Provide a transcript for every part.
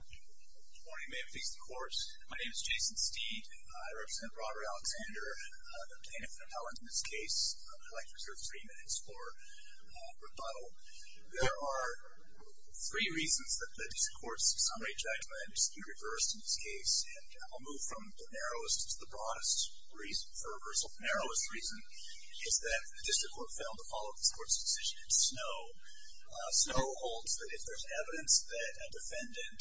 Good morning, may it please the Court. My name is Jason Steed. I represent Robert Alexander, the plaintiff and appellant in this case. I'd like to reserve three minutes for rebuttal. There are three reasons that the District Court's summary judgment is to be reversed in this case, and I'll move from the narrowest to the broadest. The reason for reversal for the narrowest reason is that the District Court failed to follow this Court's decision in Snow. Snow holds that if there's evidence that a defendant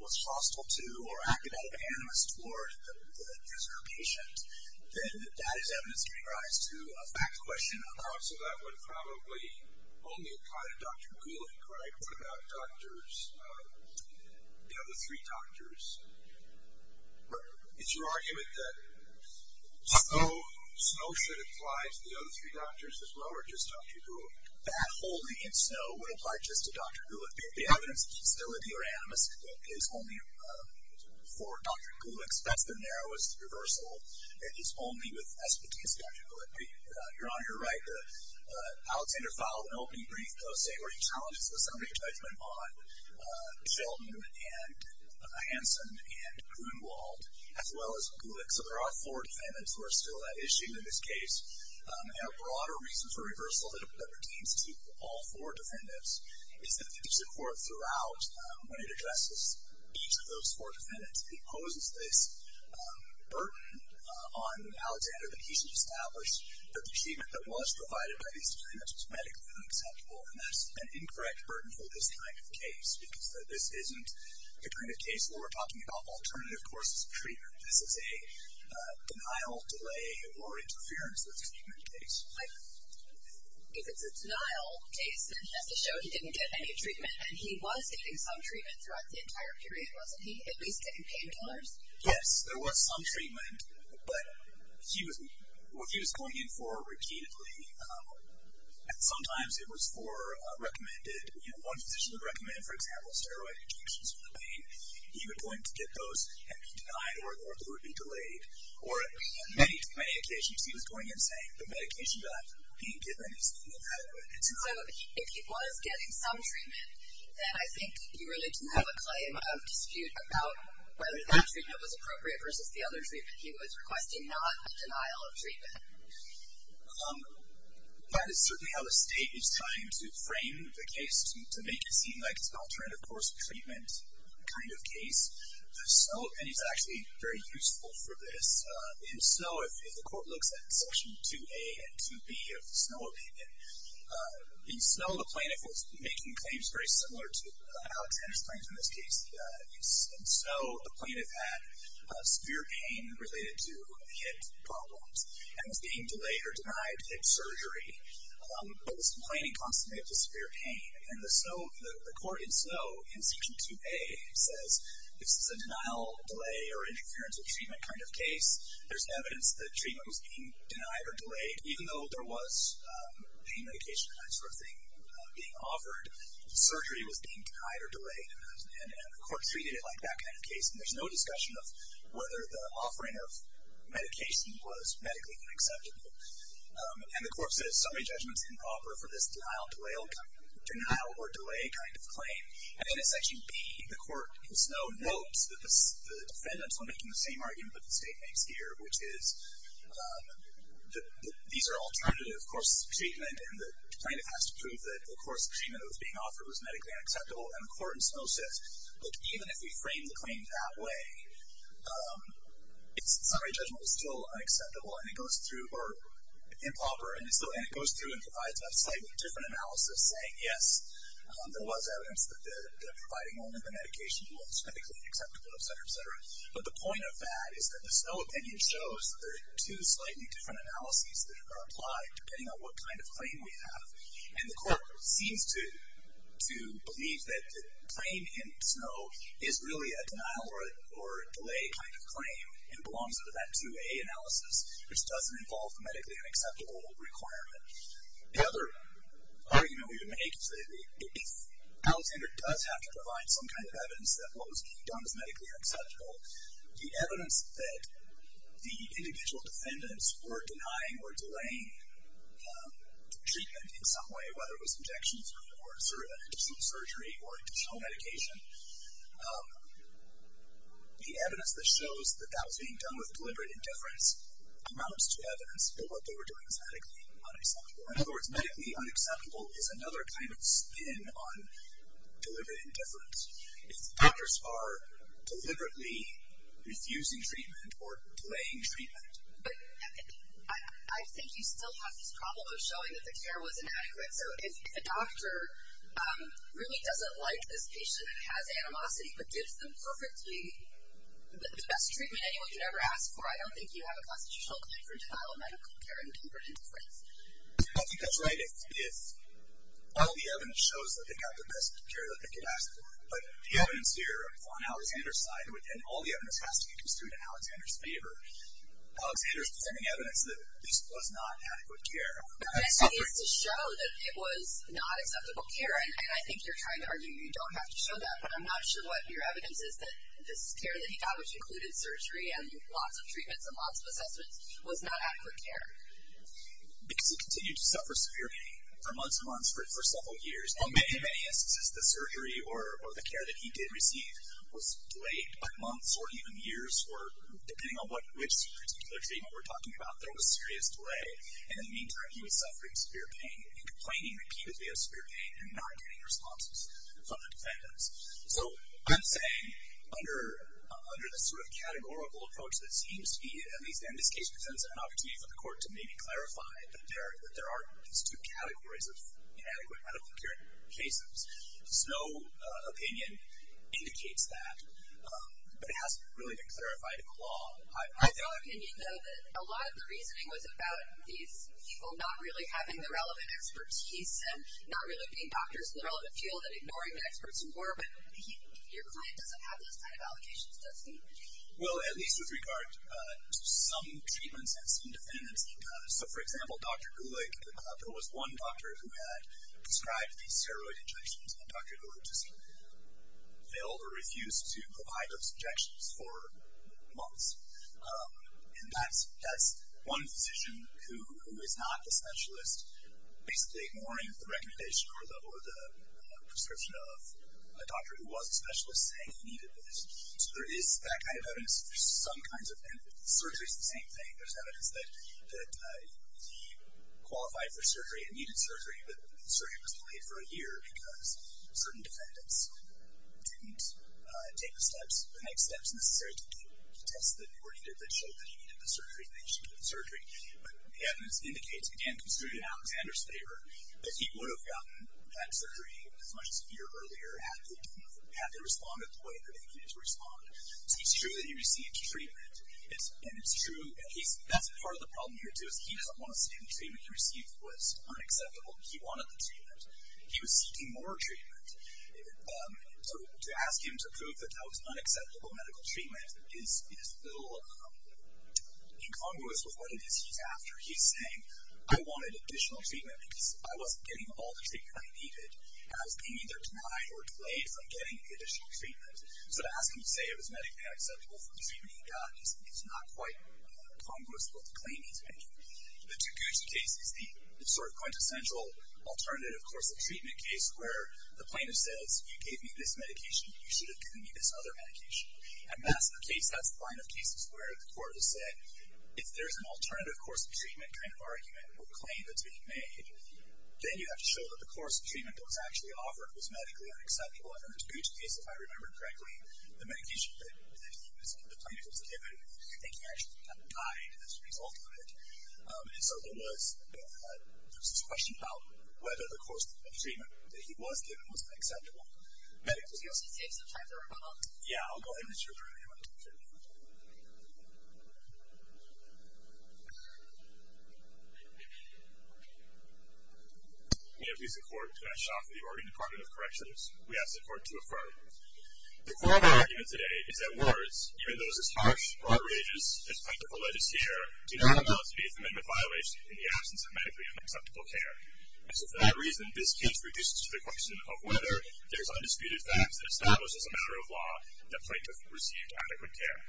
was hostile to or acted out of animus toward the user or patient, then that is evidence in regards to a fact question. So that would probably only apply to Dr. Gulick, right? What about the other three doctors? Is your argument that Snow should apply to the other three doctors as well, or just Dr. Gulick? That holding in Snow would apply just to Dr. Gulick. If the evidence of hostility or animus is only for Dr. Gulick, that's the narrowest reversal. It is only with expertise to Dr. Gulick. You're on your right. Alexander filed an opening brief, though, saying were he challenged in the summary judgment on Shelton and Hanson and Grunewald, as well as Gulick. So there are four defendants who are still at issue in this case. And a broader reason for reversal that pertains to all four defendants is that the District Court, throughout, when it addresses each of those four defendants, imposes this burden on Alexander that he should establish that the treatment that was provided by these defendants was medically unacceptable. And that's an incorrect burden for this kind of case, because this isn't the kind of case where we're talking about alternative courses of treatment. This is a denial, delay, or interference with treatment case. If it's a denial case, then that's to show he didn't get any treatment. And he was getting some treatment throughout the entire period, wasn't he, at least to pain killers? Yes, there was some treatment, but he was going in for repeatedly. And sometimes it was for a recommended, you know, one physician would recommend, for example, steroid injections for the pain. He would go in to get those and be denied, or they would be delayed. Or on many, many occasions, he was going in saying the medication that he had been given is inadequate. So if he was getting some treatment, then I think you really do have a claim of dispute about whether that treatment was appropriate versus the other treatment. He was requesting not a denial of treatment. That is certainly how the State is trying to frame the case, to make it seem like it's an alternative course of treatment kind of case. The Snow opinion is actually very useful for this. In Snow, if the Court looks at Section 2A and 2B of the Snow opinion, in Snow, the plaintiff was making claims very similar to Alexander's claims in this case. In Snow, the plaintiff had severe pain related to hip problems. And was being delayed or denied hip surgery. But was complaining constantly of the severe pain. And the Snow, the Court in Snow, in Section 2A, says this is a denial, delay, or interference of treatment kind of case. There's evidence that treatment was being denied or delayed. Even though there was pain medication and that sort of thing being offered, surgery was being denied or delayed. And the Court treated it like that kind of case. And there's no discussion of whether the offering of medication was medically unacceptable. And the Court says, sorry, judgment's improper for this denial or delay kind of claim. And in Section B, the Court in Snow notes that the defendants were making the same argument that the State makes here, which is that these are alternative courses of treatment. And the plaintiff has to prove that the course of treatment that was being offered was medically unacceptable. And the Court in Snow says, look, even if we frame the claim that way, sorry, judgment was still unacceptable and it goes through, or improper, and it goes through and provides a slightly different analysis saying, yes, there was evidence that providing only the medication was medically unacceptable, et cetera, et cetera. But the point of that is that the Snow opinion shows that there are two slightly different analyses that are applied, depending on what kind of claim we have. And the Court seems to believe that the claim in Snow is really a denial or delay kind of claim and belongs under that 2A analysis, which doesn't involve the medically unacceptable requirement. The other argument we would make is that if Alexander does have to provide some kind of evidence that what was being done was medically unacceptable, the evidence that the individual defendants were denying or delaying treatment in some way, whether it was injections or an interstitial surgery or interstitial medication, the evidence that shows that that was being done with deliberate indifference amounts to evidence that what they were doing was medically unacceptable. In other words, medically unacceptable is another kind of spin on deliberate indifference. If doctors are deliberately refusing treatment or delaying treatment. But I think you still have this problem of showing that the care was inadequate. So if a doctor really doesn't like this patient and has animosity, but gives them perfectly the best treatment anyone could ever ask for, I don't think you have a constitutional claim for denial of medical care and tempered indifference. I think that's right if all the evidence shows that they got the best care that they could ask for. But the evidence here on Alexander's side, and all the evidence has to be construed in Alexander's favor, Alexander's presenting evidence that this was not adequate care. But that is to show that it was not acceptable care. And I think you're trying to argue you don't have to show that. But I'm not sure what your evidence is that this care that he got, which included surgery and lots of treatments and lots of assessments, was not adequate care. Because he continued to suffer severe pain for months and months, for several years. In many instances, the surgery or the care that he did receive was delayed by months or even years, or depending on which particular treatment we're talking about, there was serious delay. In the meantime, he was suffering severe pain and complaining repeatedly of severe pain and not getting responses from the defendants. So I'm saying under the sort of categorical approach that seems to be, at least in this case, presents an opportunity for the court to maybe clarify that there are these two categories of inadequate medical care in cases. There's no opinion indicates that. But it hasn't really been clarified in the law. I thought, can you know, that a lot of the reasoning was about these people not really having the relevant expertise and not really being doctors in the relevant field and ignoring the experts more. But your client doesn't have those kind of allocations, does he? Well, at least with regard to some treatments and some defendants. So, for example, Dr. Gulick, there was one doctor who had prescribed these steroid injections, and Dr. Gulick just failed or refused to provide those injections for months. And that's one physician who is not the specialist, basically ignoring the recommendation or the prescription of a doctor who was a specialist saying he needed this. So there is that kind of evidence. There's some kinds of evidence. Surgery is the same thing. There's evidence that he qualified for surgery and needed surgery, but the surgery was delayed for a year because certain defendants didn't take the steps, the next steps necessary to test that he were needed that showed that he needed the surgery and that he should get the surgery. But the evidence indicates, again, construed in Alexander's favor, that he would have gotten that surgery as much as a year earlier had they responded the way that they needed to respond. So it's true that he received treatment. And it's true, and that's part of the problem here, too, is he doesn't want to say the treatment he received was unacceptable. He wanted the treatment. He was seeking more treatment. So to ask him to prove that that was unacceptable medical treatment is a little incongruous with what it is he's after. He's saying, I wanted additional treatment because I wasn't getting all the treatment I needed and I was being either denied or delayed from getting the additional treatment. So to ask him to say it was medically unacceptable for the treatment he got is not quite incongruous with what the claim he's making. The Duguzi case is the sort of quintessential alternative course of treatment case where the plaintiff says, you gave me this medication, you should have given me this other medication. And that's the case, that's the line of cases where the court has said, if there's an alternative course of treatment kind of argument or claim that's being made, then you have to show that the course of treatment that was actually offered was medically unacceptable. And in the Duguzi case, if I remember correctly, the medication that the plaintiff was given, I think he actually kind of died as a result of it. And so there was this question about whether the course of treatment that he was given was unacceptable. Does the Duguzi case have time for a rebuttal? Yeah, I'll go ahead and issue a rebuttal. May it please the Court that I shall offer the Oregon Department of Corrections. We ask the Court to affirm. The court argument today is that words, even those as harsh, outrageous as plaintiff or legislator, do not amount to be a commitment violation in the absence of medically unacceptable care. And so for that reason, this case reduces to the question of whether there's undisputed facts that establish as a matter of law that the plaintiff received adequate care.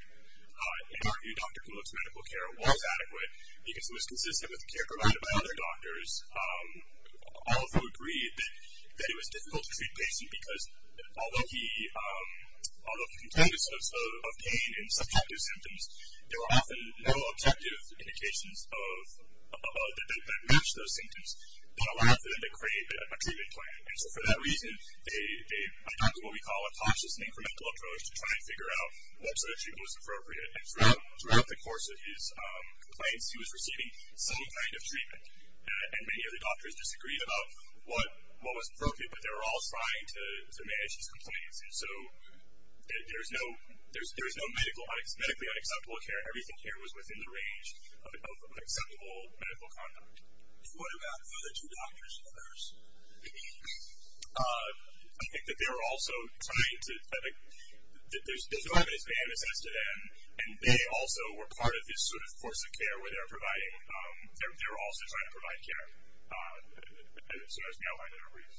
In our view, Dr. Kimmel's medical care was adequate, because it was consistent with the care provided by other doctors, although agreed that it was difficult to treat patients, because although he contained a sense of pain and subjective symptoms, there were often no objective indications that matched those symptoms that allowed for them to create a treatment plan. And so for that reason, they adopted what we call a cautious and incremental approach to try and figure out what sort of treatment was appropriate. And throughout the course of his complaints, he was receiving some kind of treatment. And many of the doctors disagreed about what was appropriate, but they were all trying to manage his complaints. And so there's no medically unacceptable care. Everything here was within the range of acceptable medical conduct. What about the other two doctors? I think that they were also trying to – there's no evidence to them, and they also were part of this sort of course of care where they were providing – they were also trying to provide care. And so that was the outline of their brief.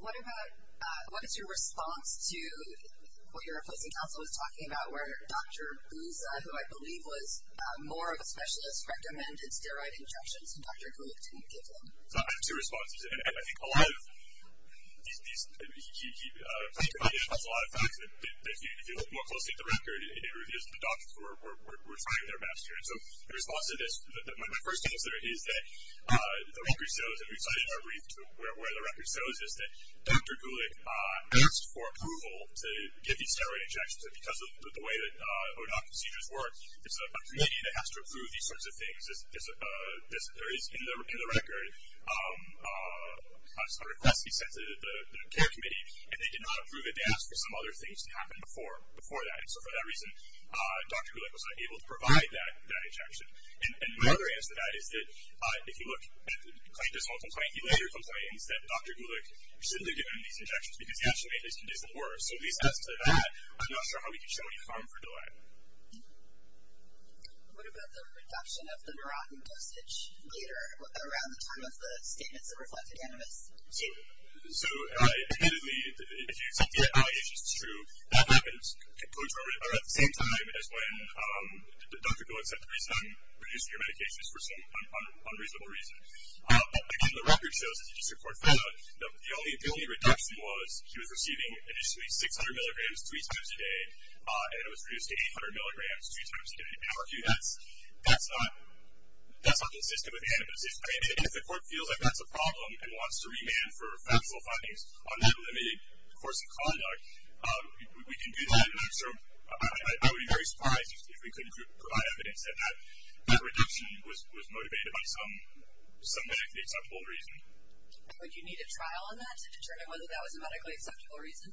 What about – what is your response to what your opposing counsel was talking about, where Dr. Bouza, who I believe was more of a specialist, recommended steroid injections, and Dr. Gould didn't give them? I have two responses to that. And I think a lot of these – he provided a lot of facts, and if you look more closely at the record, it reveals that the doctors were trying their best here. And so in response to this, my first answer is that the record shows that Dr. Goulick asked for approval to give these steroid injections, and because of the way that ODOT procedures work, it's a committee that has to approve these sorts of things. There is, in the record, a request he sent to the care committee, and they did not approve it. They asked for some other things to happen before that. And so for that reason, Dr. Goulick was not able to provide that injection. And my other answer to that is that if you look at the plaintiff's whole complaint, he later complains that Dr. Goulick shouldn't have given him these injections because he actually made his condition worse. So these answers to that, I'm not sure how we can show any harm for DOAC. What about the reduction of the marotten dosage later, around the time of the statements that reflected animus? So admittedly, if you accept the evidence, it's true. That happens at the same time as when Dr. Goulick said, reduce your medications for some unreasonable reason. Again, the record shows that the only reduction was he was receiving initially 600 milligrams three times a day, and it was reduced to 800 milligrams three times a day. Now, that's not consistent with the animus. I mean, if the court feels like that's a problem and wants to remand for factual findings on that limited course of conduct, we can do that, and I'm sure I would be very surprised if we couldn't provide evidence that that reduction was motivated by some medically acceptable reason. Would you need a trial on that to determine whether that was a medically acceptable reason?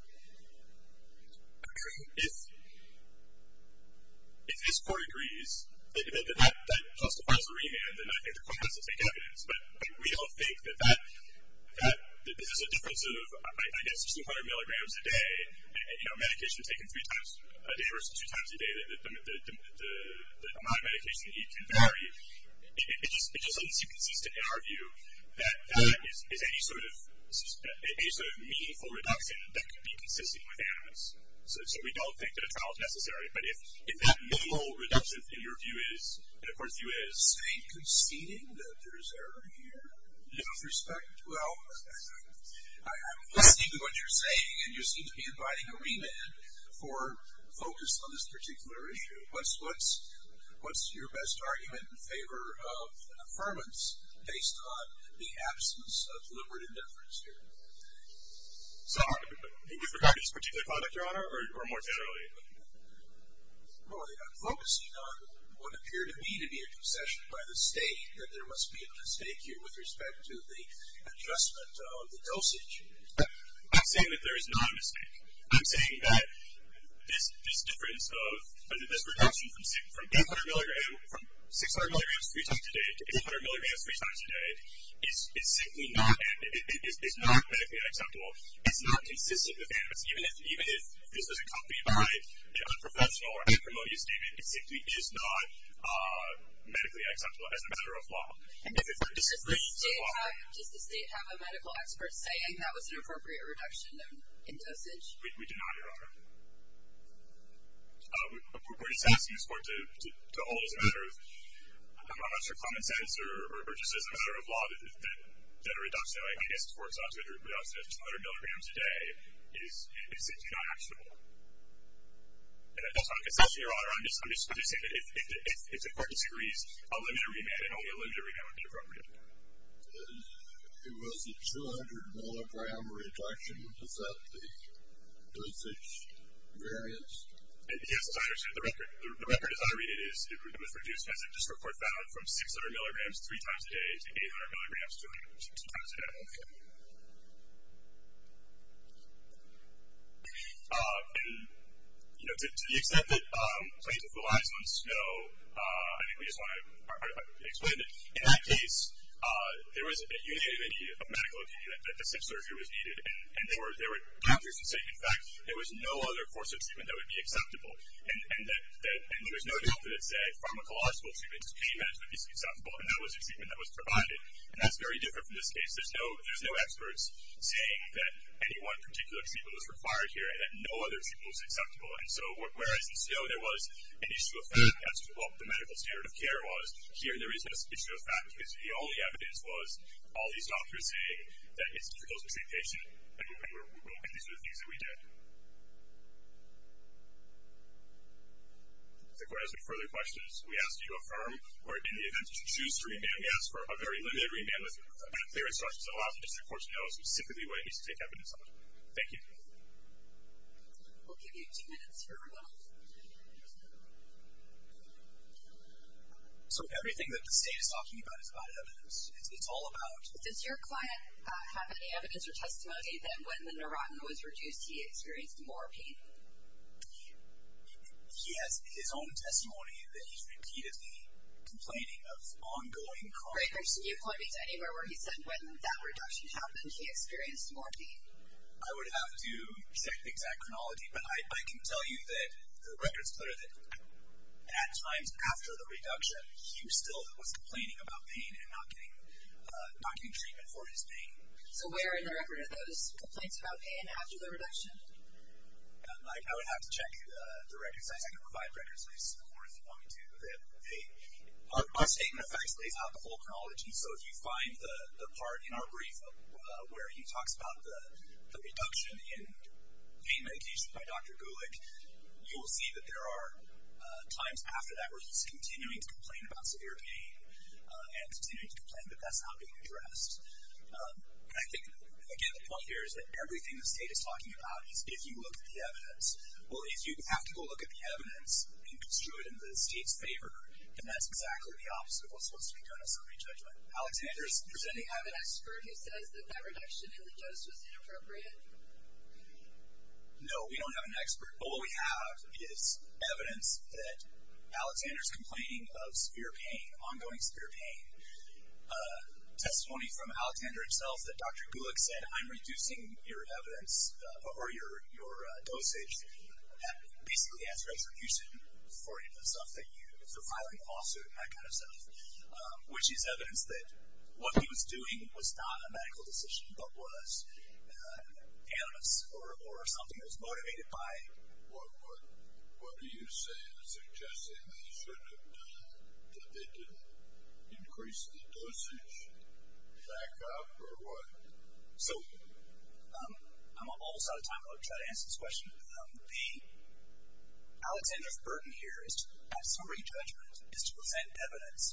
If this court agrees that that justifies the remand, then I think the court has to take evidence. But we don't think that this is a difference of, I guess, 600 milligrams a day, you know, medication taken three times a day versus two times a day, the amount of medication that you can vary. It just doesn't seem consistent in our view that that is any sort of meaningful reduction that could be consistent with animus. So we don't think that a trial is necessary. But if that meaningful reduction, in your view is, and the court's view is. Are you conceding that there's error here? Out of respect? Well, I'm listening to what you're saying, and you seem to be inviting a remand for focus on this particular issue. What's your best argument in favor of an affirmance based on the absence of deliberate indifference here? With regard to this particular product, Your Honor, or more generally? I'm focusing on what appeared to me to be a concession by the state that there must be a mistake here with respect to the adjustment of the dosage. I'm saying that there is not a mistake. I'm saying that this difference of this reduction from 800 milligrams, from 600 milligrams three times a day to 800 milligrams three times a day, is simply not medically acceptable. It's not consistent with animus. Even if this was accompanied by an unprofessional or acrimonious statement, it simply is not medically acceptable as a matter of law. Does the state have a medical expert saying that was an appropriate reduction in dosage? We do not, Your Honor. We're just asking this court to hold it as a matter of, I'm not sure, common sense or just as a matter of law that a reduction like this works out to a reduction of 200 milligrams a day is simply not actionable. And that's not a concession, Your Honor. I'm just saying that if the court disagrees, a limited remand and only a limited remand would be appropriate. It was a 200 milligram reduction. Is that the dosage variance? Yes, I understand. The record as I read it is it was reduced, as this court found, from 600 milligrams three times a day to 800 milligrams two times a day. And, you know, to the extent that plaintiff relies on snow, I think we just want to explain that in that case, there was a unique medical opinion that the SIP surgery was needed, and there were doctors who said, in fact, there was no other course of treatment that would be acceptable. And there was no doctor that said, pharmacological treatment is pain management is acceptable, and that was the treatment that was provided. And that's very different from this case. There's no experts saying that any one particular treatment was required here and that no other treatment was acceptable. And so whereas in snow there was an issue of fact, that's what the medical standard of care was, here there is this issue of fact, because the only evidence was all these doctors saying that it's difficult to stay patient, and these are the things that we did. If the court has any further questions, we ask that you affirm, or in the event that you choose to remand, we ask for a very limited remand with clear instructions that allows the district court to know specifically what it needs to take evidence on. Thank you. We'll give you two minutes here. So everything that the state is talking about is not evidence? It's all about? Does your client have any evidence or testimony that when the neurotin was reduced he experienced more pain? He has his own testimony that he's repeatedly complaining of ongoing chronic pain. Greg, can you point me to anywhere where he said when that reduction happened he experienced more pain? I would have to check the exact chronology, but I can tell you that the record's clear that at times after the reduction he was still complaining about pain and not getting treatment for his pain. So where in the record are those complaints about pain after the reduction? I would have to check the records. I can provide records to the court if you want me to. My statement of facts lays out the whole chronology, so if you find the part in our brief where he talks about the reduction in pain medication by Dr. Gulick, you will see that there are times after that where he's continuing to complain about severe pain and continuing to complain, but that's not being addressed. And I think, again, the point here is that everything the state is talking about is if you look at the evidence. Well, if you have to go look at the evidence and construe it in the state's favor, then that's exactly the opposite of what's supposed to be done in summary judgment. Alexander is presenting evidence. Do you have an expert who says that that reduction in the dose was inappropriate? No, we don't have an expert. But what we have is evidence that Alexander's complaining of severe pain, ongoing severe pain. Testimony from Alexander himself that Dr. Gulick said, I'm reducing your evidence or your dosage, basically as retribution for filing a lawsuit and that kind of stuff, which is evidence that what he was doing was not a medical decision, but was animus or something that was motivated by it. What are you saying? Suggesting that he shouldn't have done it, that they didn't increase the dosage back up or what? So I'm almost out of time. I'll try to answer this question. The Alexander's burden here is to have summary judgment, is to present evidence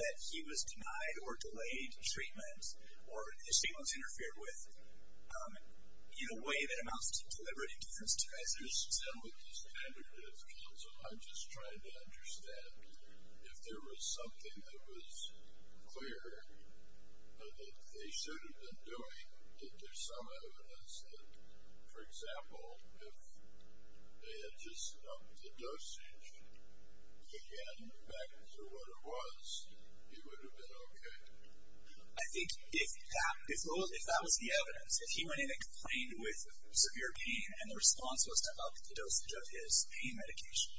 that he was denied or delayed treatment or his treatment was interfered with in a way that amounts to deliberate interference. With this kind of difference, I'm just trying to understand if there was something that was clear that they should have been doing, that there's some evidence that, for example, if they had just upped the dosage again back to what it was, he would have been okay. I think if that was the evidence, if he went in and complained with severe pain and the response was to up the dosage of his pain medication,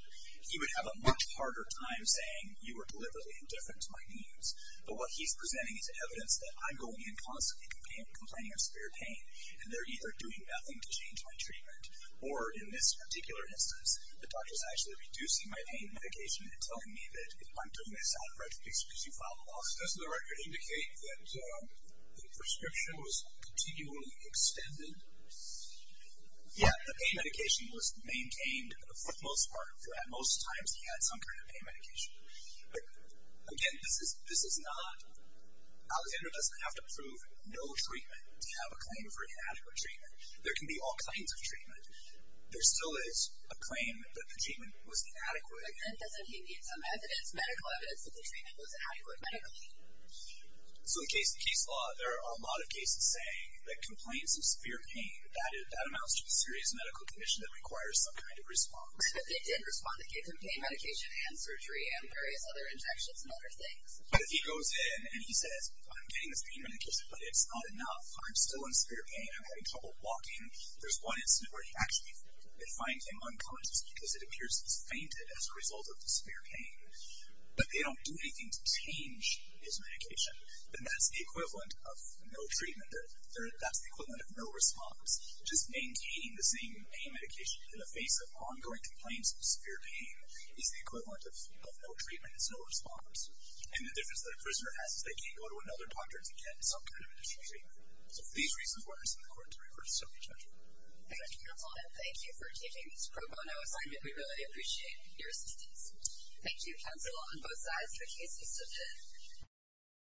he would have a much harder time saying you were deliberately indifferent to my needs. But what he's presenting is evidence that I'm going in constantly complaining of severe pain, and they're either doing nothing to change my treatment, or in this particular instance, the doctor's actually reducing my pain medication and telling me that if you follow up. Does the record indicate that the prescription was continually extended? Yeah, the pain medication was maintained for the most part. At most times, he had some kind of pain medication. But again, this is not, Alexander doesn't have to prove no treatment to have a claim for inadequate treatment. There can be all kinds of treatment. There still is a claim that the treatment was inadequate. But then doesn't he need some evidence, medical evidence that the treatment was inadequate medically? So in case law, there are a lot of cases saying that complaints of severe pain, that amounts to a serious medical condition that requires some kind of response. But if he did respond, they gave him pain medication and surgery and various other injections and other things. But if he goes in and he says, I'm getting this pain medication, but it's not enough. I'm still in severe pain. I'm having trouble walking. There's one instance where he actually, they find him unconscious because it appears he's fainted as a result of the severe pain. But they don't do anything to change his medication. And that's the equivalent of no treatment. That's the equivalent of no response. Just maintaining the same pain medication in the face of ongoing complaints of severe pain is the equivalent of no treatment. It's no response. And the difference that a prisoner has is they can't go to another doctor to get some kind of additional treatment. So for these reasons, it's important to refer to SOPI check. Thank you, Counsel. And thank you for taking this pro bono assignment. We really appreciate your assistance. Thank you, Counsel, on both sides for cases submitted.